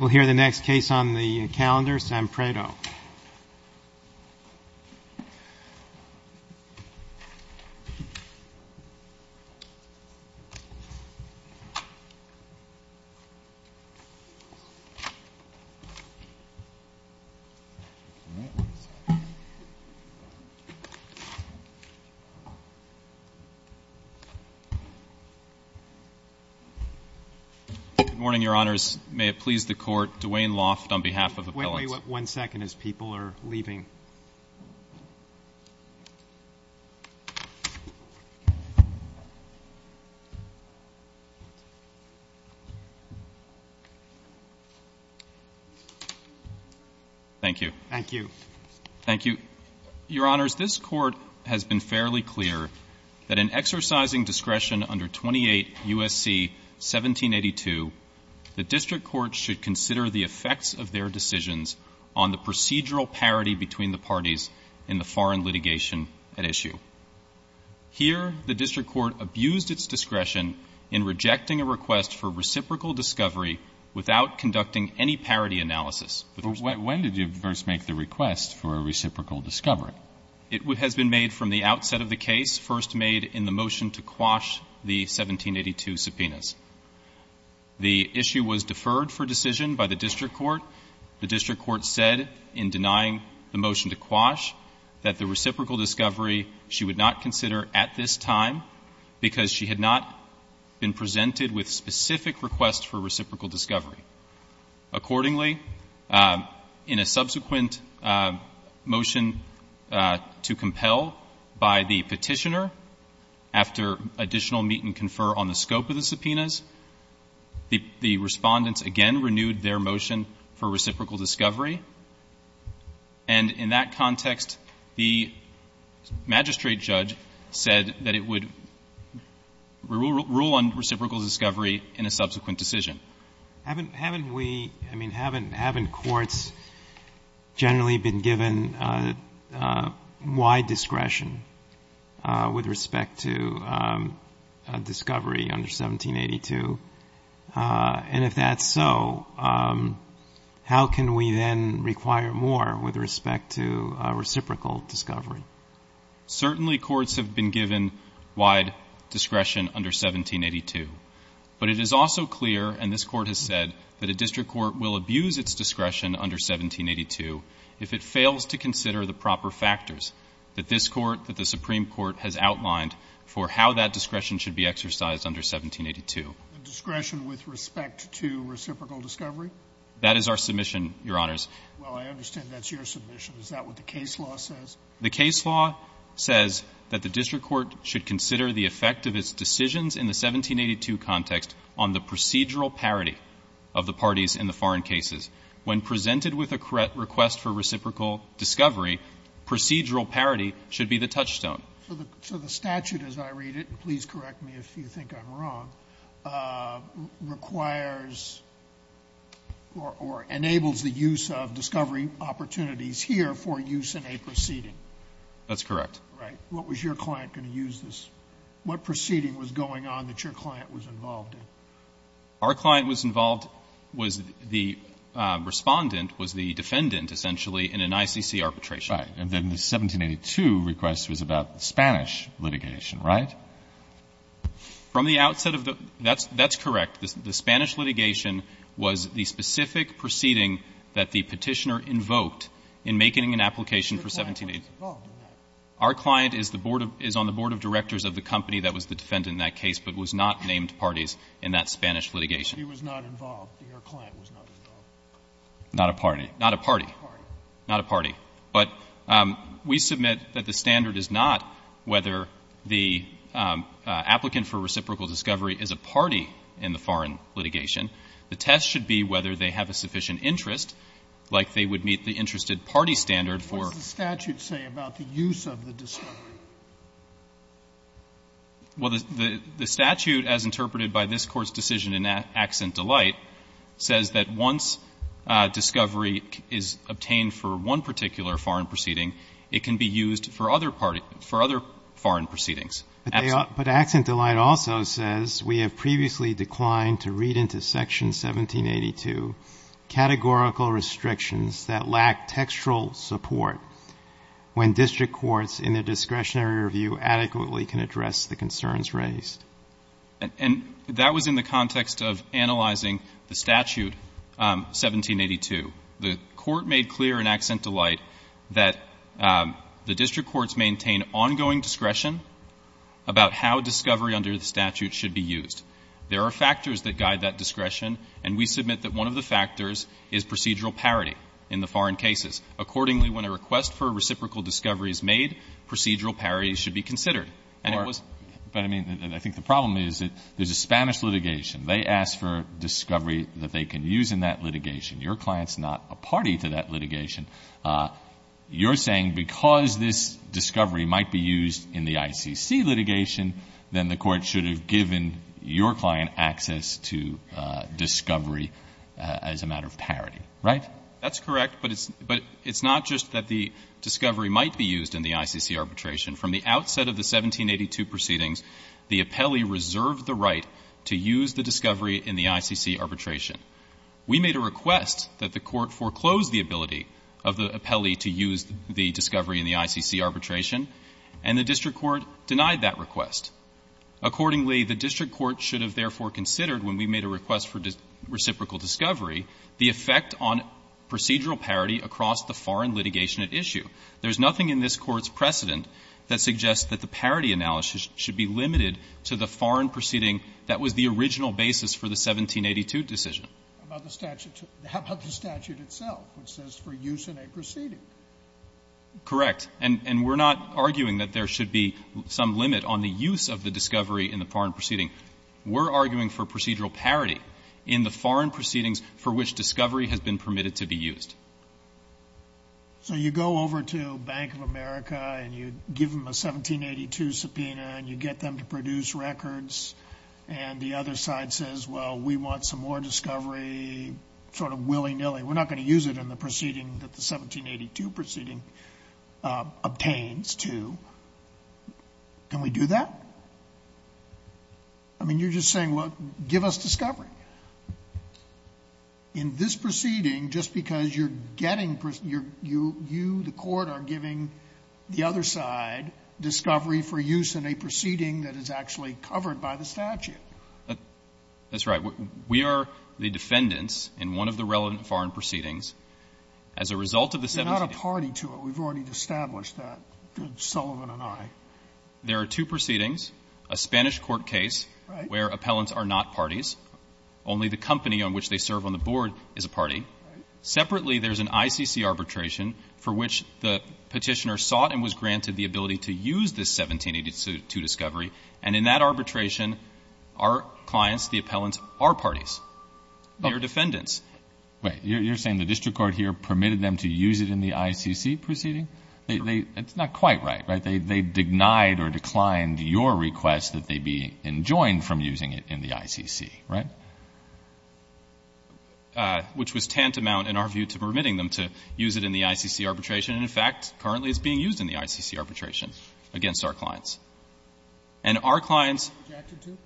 We'll hear the next case on the calendar, Sam Prado. Good morning, Your Honors. May it please the Court, Dwayne Loft on behalf of Appellants. Let me wait one second as people are leaving. Thank you. Thank you. Thank you. Your Honors, this Court has been fairly clear that in exercising discretion under 28 U.S.C. 1782, the district court should consider the effects of their decisions on the procedural parity between the parties in the foreign litigation at issue. Here, the district court abused its discretion in rejecting a request for reciprocal discovery without conducting any parity analysis. But when did you first make the request for a reciprocal discovery? It has been made from the outset of the case, first made in the motion to quash the 1782 subpoenas. The issue was deferred for decision by the district court. The district court said in denying the motion to quash that the reciprocal discovery she would not consider at this time because she had not been presented with specific requests for reciprocal discovery. Accordingly, in a subsequent motion to compel by the Petitioner, after additional meet and confer on the scope of the subpoenas, the Respondents again renewed their motion for reciprocal discovery, and in that context, the magistrate judge said that it would rule on reciprocal discovery in a subsequent decision. Haven't we, I mean, haven't courts generally been given wide discretion with respect to discovery under 1782? And if that's so, how can we then require more with respect to reciprocal discovery? Certainly, courts have been given wide discretion under 1782. But it is also clear, and this Court has said, that a district court will abuse its discretion under 1782 if it fails to consider the proper factors that this Court, that the Supreme Court has outlined for how that discretion should be exercised under 1782. Discretion with respect to reciprocal discovery? That is our submission, Your Honors. Well, I understand that's your submission. Is that what the case law says? The case law says that the district court should consider the effect of its decisions in the 1782 context on the procedural parity of the parties in the foreign cases. When presented with a correct request for reciprocal discovery, procedural parity should be the touchstone. So the statute, as I read it, and please correct me if you think I'm wrong, requires or enables the use of discovery opportunities here for use in a proceeding. That's correct. Right. What was your client going to use this? What proceeding was going on that your client was involved in? Our client was involved, was the respondent, was the defendant, essentially, in an ICC arbitration. Right. And then the 1782 request was about the Spanish litigation, right? From the outset of the — that's correct. The Spanish litigation was the specific proceeding that the Petitioner invoked in making an application for 1782. Your client was involved in that? Our client is the board of — is on the board of directors of the company that was the defendant in that case, but was not named parties in that Spanish litigation. He was not involved. Your client was not involved. Not a party. Not a party. Not a party. But we submit that the standard is not whether the applicant for reciprocal discovery is a party in the foreign litigation. The test should be whether they have a sufficient interest, like they would meet the interested party standard for — What does the statute say about the use of the discovery? Well, the statute, as interpreted by this Court's decision in Accent Delight, says that once discovery is obtained for one particular foreign proceeding, it can be used for other foreign proceedings. But Accent Delight also says, We have previously declined to read into Section 1782 categorical restrictions that lack textual support when district courts in their discretionary review adequately can address the concerns raised. And that was in the context of analyzing the statute, 1782. The Court made clear in Accent Delight that the district courts maintain ongoing discretion about how discovery under the statute should be used. There are factors that guide that discretion, and we submit that one of the factors is procedural parity in the foreign cases. Accordingly, when a request for reciprocal discovery is made, procedural parity should be considered. And it was — But, I mean, I think the problem is that there's a Spanish litigation. They ask for discovery that they can use in that litigation. Your client's not a party to that litigation. You're saying because this discovery might be used in the ICC litigation, then the discovery as a matter of parity, right? That's correct. But it's not just that the discovery might be used in the ICC arbitration. From the outset of the 1782 proceedings, the appellee reserved the right to use the discovery in the ICC arbitration. We made a request that the Court foreclose the ability of the appellee to use the discovery in the ICC arbitration, and the district court denied that request. Accordingly, the district court should have therefore considered, when we made a request for reciprocal discovery, the effect on procedural parity across the foreign litigation at issue. There's nothing in this Court's precedent that suggests that the parity analysis should be limited to the foreign proceeding that was the original basis for the 1782 decision. How about the statute itself, which says for use in a proceeding? Correct. And we're not arguing that there should be some limit on the use of the discovery in the foreign proceeding. We're arguing for procedural parity in the foreign proceedings for which discovery has been permitted to be used. So you go over to Bank of America, and you give them a 1782 subpoena, and you get them to produce records, and the other side says, well, we want some more discovery sort of willy-nilly. We're not going to use it in the proceeding that the 1782 proceeding obtains to. Can we do that? I mean, you're just saying, well, give us discovery. In this proceeding, just because you're getting you, the court are giving the other side discovery for use in a proceeding that is actually covered by the statute. That's right. We are the defendants in one of the relevant foreign proceedings. As a result of the 1782 ---- We're not a party to it. We've already established that, Sullivan and I. There are two proceedings, a Spanish court case where appellants are not parties. Only the company on which they serve on the board is a party. Separately, there's an ICC arbitration for which the Petitioner sought and was granted the ability to use this 1782 discovery, and in that arbitration, our clients, the appellants, are parties. They are defendants. Wait. You're saying the district court here permitted them to use it in the ICC proceeding? It's not quite right, right? They denied or declined your request that they be enjoined from using it in the ICC, right? Which was tantamount, in our view, to permitting them to use it in the ICC arbitration. And, in fact, currently it's being used in the ICC arbitration against our clients. And our clients ---- Objected to?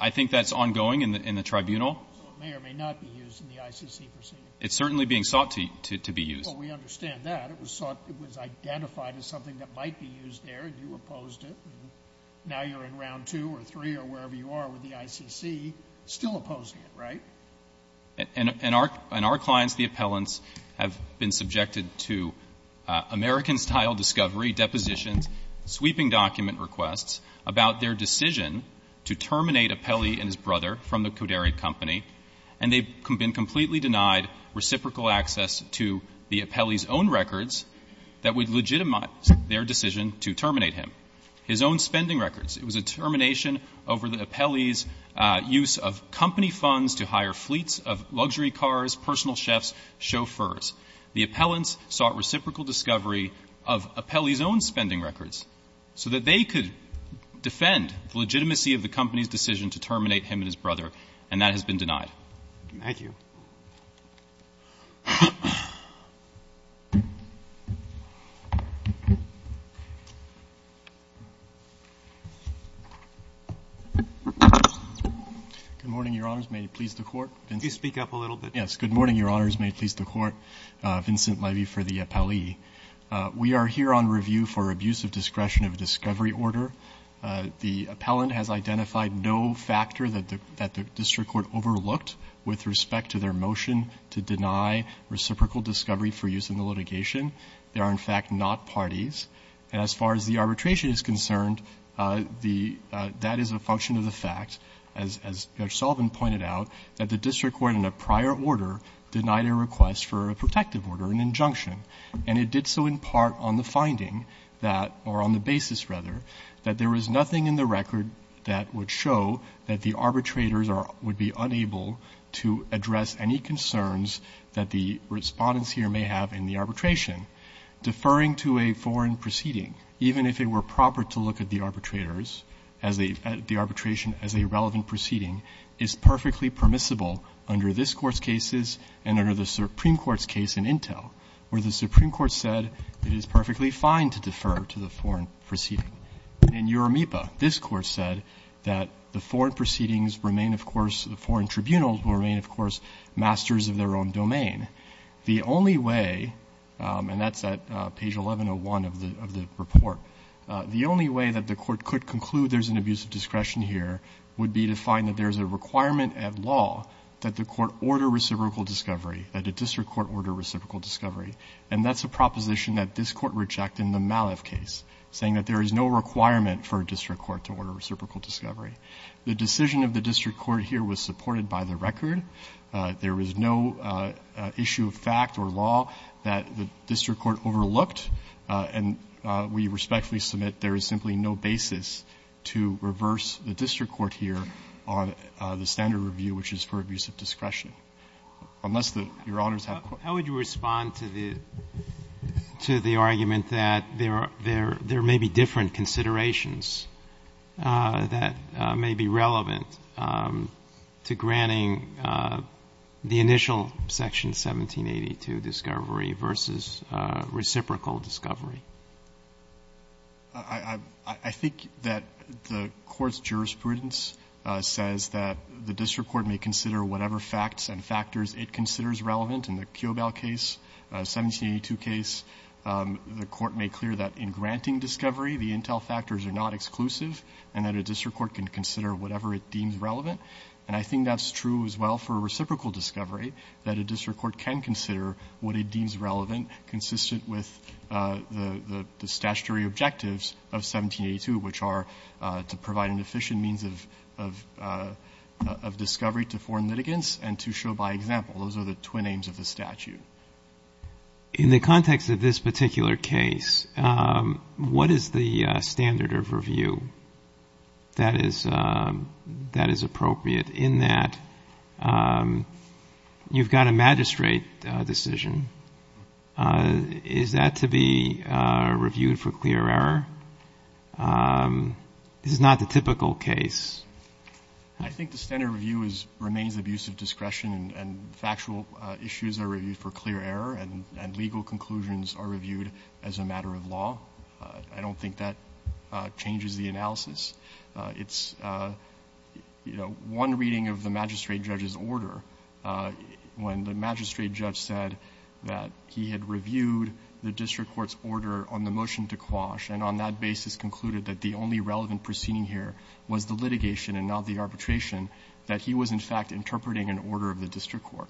I think that's ongoing in the tribunal. So it may or may not be used in the ICC proceeding? It's certainly being sought to be used. Well, we understand that. It was sought to be ---- it was identified as something that might be used there, and you opposed it. Now you're in Round 2 or 3 or wherever you are with the ICC, still opposing it, right? And our clients, the appellants, have been subjected to American-style discovery, depositions, sweeping document requests about their decision to terminate Apelli and his brother from the Koderi Company. And they've been completely denied reciprocal access to the appellee's own records that would legitimize their decision to terminate him, his own spending records. It was a termination over the appellee's use of company funds to hire fleets of luxury cars, personal chefs, chauffeurs. The appellants sought reciprocal discovery of Apelli's own spending records so that they could defend the legitimacy of the company's decision to terminate him and his brother, and that has been denied. Thank you. Good morning, Your Honors. May it please the Court. Could you speak up a little bit? Yes. Good morning, Your Honors. May it please the Court. Vincent Levy for the appellee. We are here on review for abuse of discretion of discovery order. The appellant has identified no factor that the district court overlooked with respect to their motion to deny reciprocal discovery for use in the litigation. They are, in fact, not parties. And as far as the arbitration is concerned, that is a function of the fact, as Judge Sotomayor denied a request for a protective order, an injunction. And it did so in part on the finding that, or on the basis rather, that there was nothing in the record that would show that the arbitrators would be unable to address any concerns that the Respondents here may have in the arbitration. Deferring to a foreign proceeding, even if it were proper to look at the arbitrators, as the arbitration, as a relevant proceeding, is perfectly permissible under this Court's cases and under the Supreme Court's case in Intel, where the Supreme Court said it is perfectly fine to defer to the foreign proceeding. In Uromipa, this Court said that the foreign proceedings remain, of course, the foreign tribunals will remain, of course, masters of their own domain. The only way, and that's at page 1101 of the report, the only way that the Court could conclude there's an abuse of discretion here would be to find that there's a requirement at law that the Court order reciprocal discovery, that a district court order reciprocal discovery. And that's a proposition that this Court rejected in the Maliff case, saying that there is no requirement for a district court to order reciprocal discovery. The decision of the district court here was supported by the record. There was no issue of fact or law that the district court overlooked. And we respectfully submit there is simply no basis to reverse the district court here on the standard review, which is for abuse of discretion. Unless the Your Honors have questions. How would you respond to the argument that there may be different considerations that may be relevant to granting the initial Section 1782 discovery versus reciprocal discovery? I think that the Court's jurisprudence says that the district court may consider whatever facts and factors it considers relevant. In the Kyobel case, 1782 case, the Court made clear that in granting discovery the intel factors are not exclusive and that a district court can consider whatever it deems relevant. And I think that's true as well for reciprocal discovery, that a district court can consider what it deems relevant, consistent with the statutory objectives of 1782, which are to provide an efficient means of discovery to foreign litigants and to show by example. Those are the twin aims of the statute. In the context of this particular case, what is the standard of review that is appropriate in that you've got a magistrate decision. Is that to be reviewed for clear error? This is not the typical case. I think the standard review remains abuse of discretion and factual issues are reviewed for clear error and legal conclusions are reviewed as a matter of law. I don't think that changes the analysis. It's, you know, one reading of the magistrate judge's order when the magistrate judge said that he had reviewed the district court's order on the motion to quash and on that basis concluded that the only relevant proceeding here was the litigation and not the arbitration, that he was in fact interpreting an order of the district court.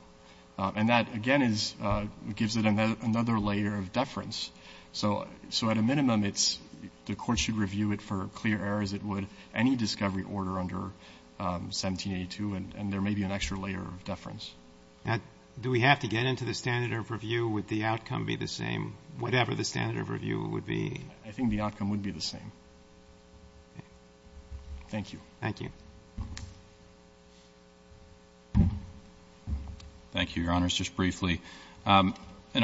So at a minimum, the court should review it for clear error as it would any discovery order under 1782 and there may be an extra layer of deference. Now, do we have to get into the standard of review? Would the outcome be the same, whatever the standard of review would be? I think the outcome would be the same. Thank you. Thank you. Thank you, Your Honors. Just briefly, an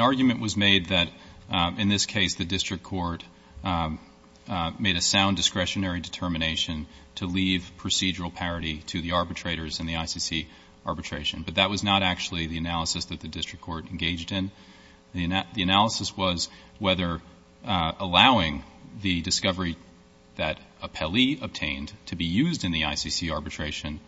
argument was made that in this case the district court made a sound discretionary determination to leave procedural parity to the arbitrators in the ICC arbitration, but that was not actually the analysis that the district court engaged in. The analysis was whether allowing the discovery that a Pelley obtained to be used in the ICC arbitration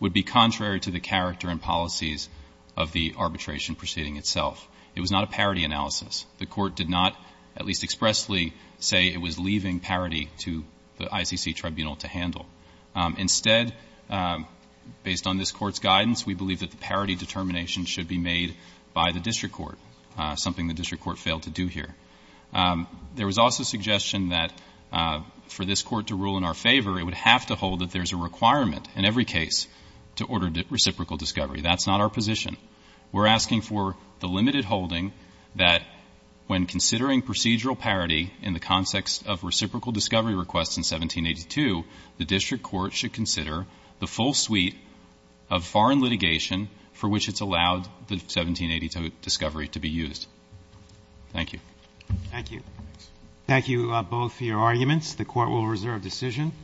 would be contrary to the character and policies of the arbitration proceeding itself. It was not a parity analysis. The court did not at least expressly say it was leaving parity to the ICC tribunal to handle. Instead, based on this court's guidance, we believe that the parity determination should be made by the district court, something the district court failed to do here. There was also suggestion that for this court to rule in our favor, it would have to hold that there's a requirement in every case to order reciprocal discovery. That's not our position. We're asking for the limited holding that when considering procedural parity in the context of reciprocal discovery requests in 1782, the district court should consider the full suite of foreign litigation for which it's allowed the 1782 discovery to be used. Thank you. Thank you. Thank you both for your arguments. The Court will reserve decision.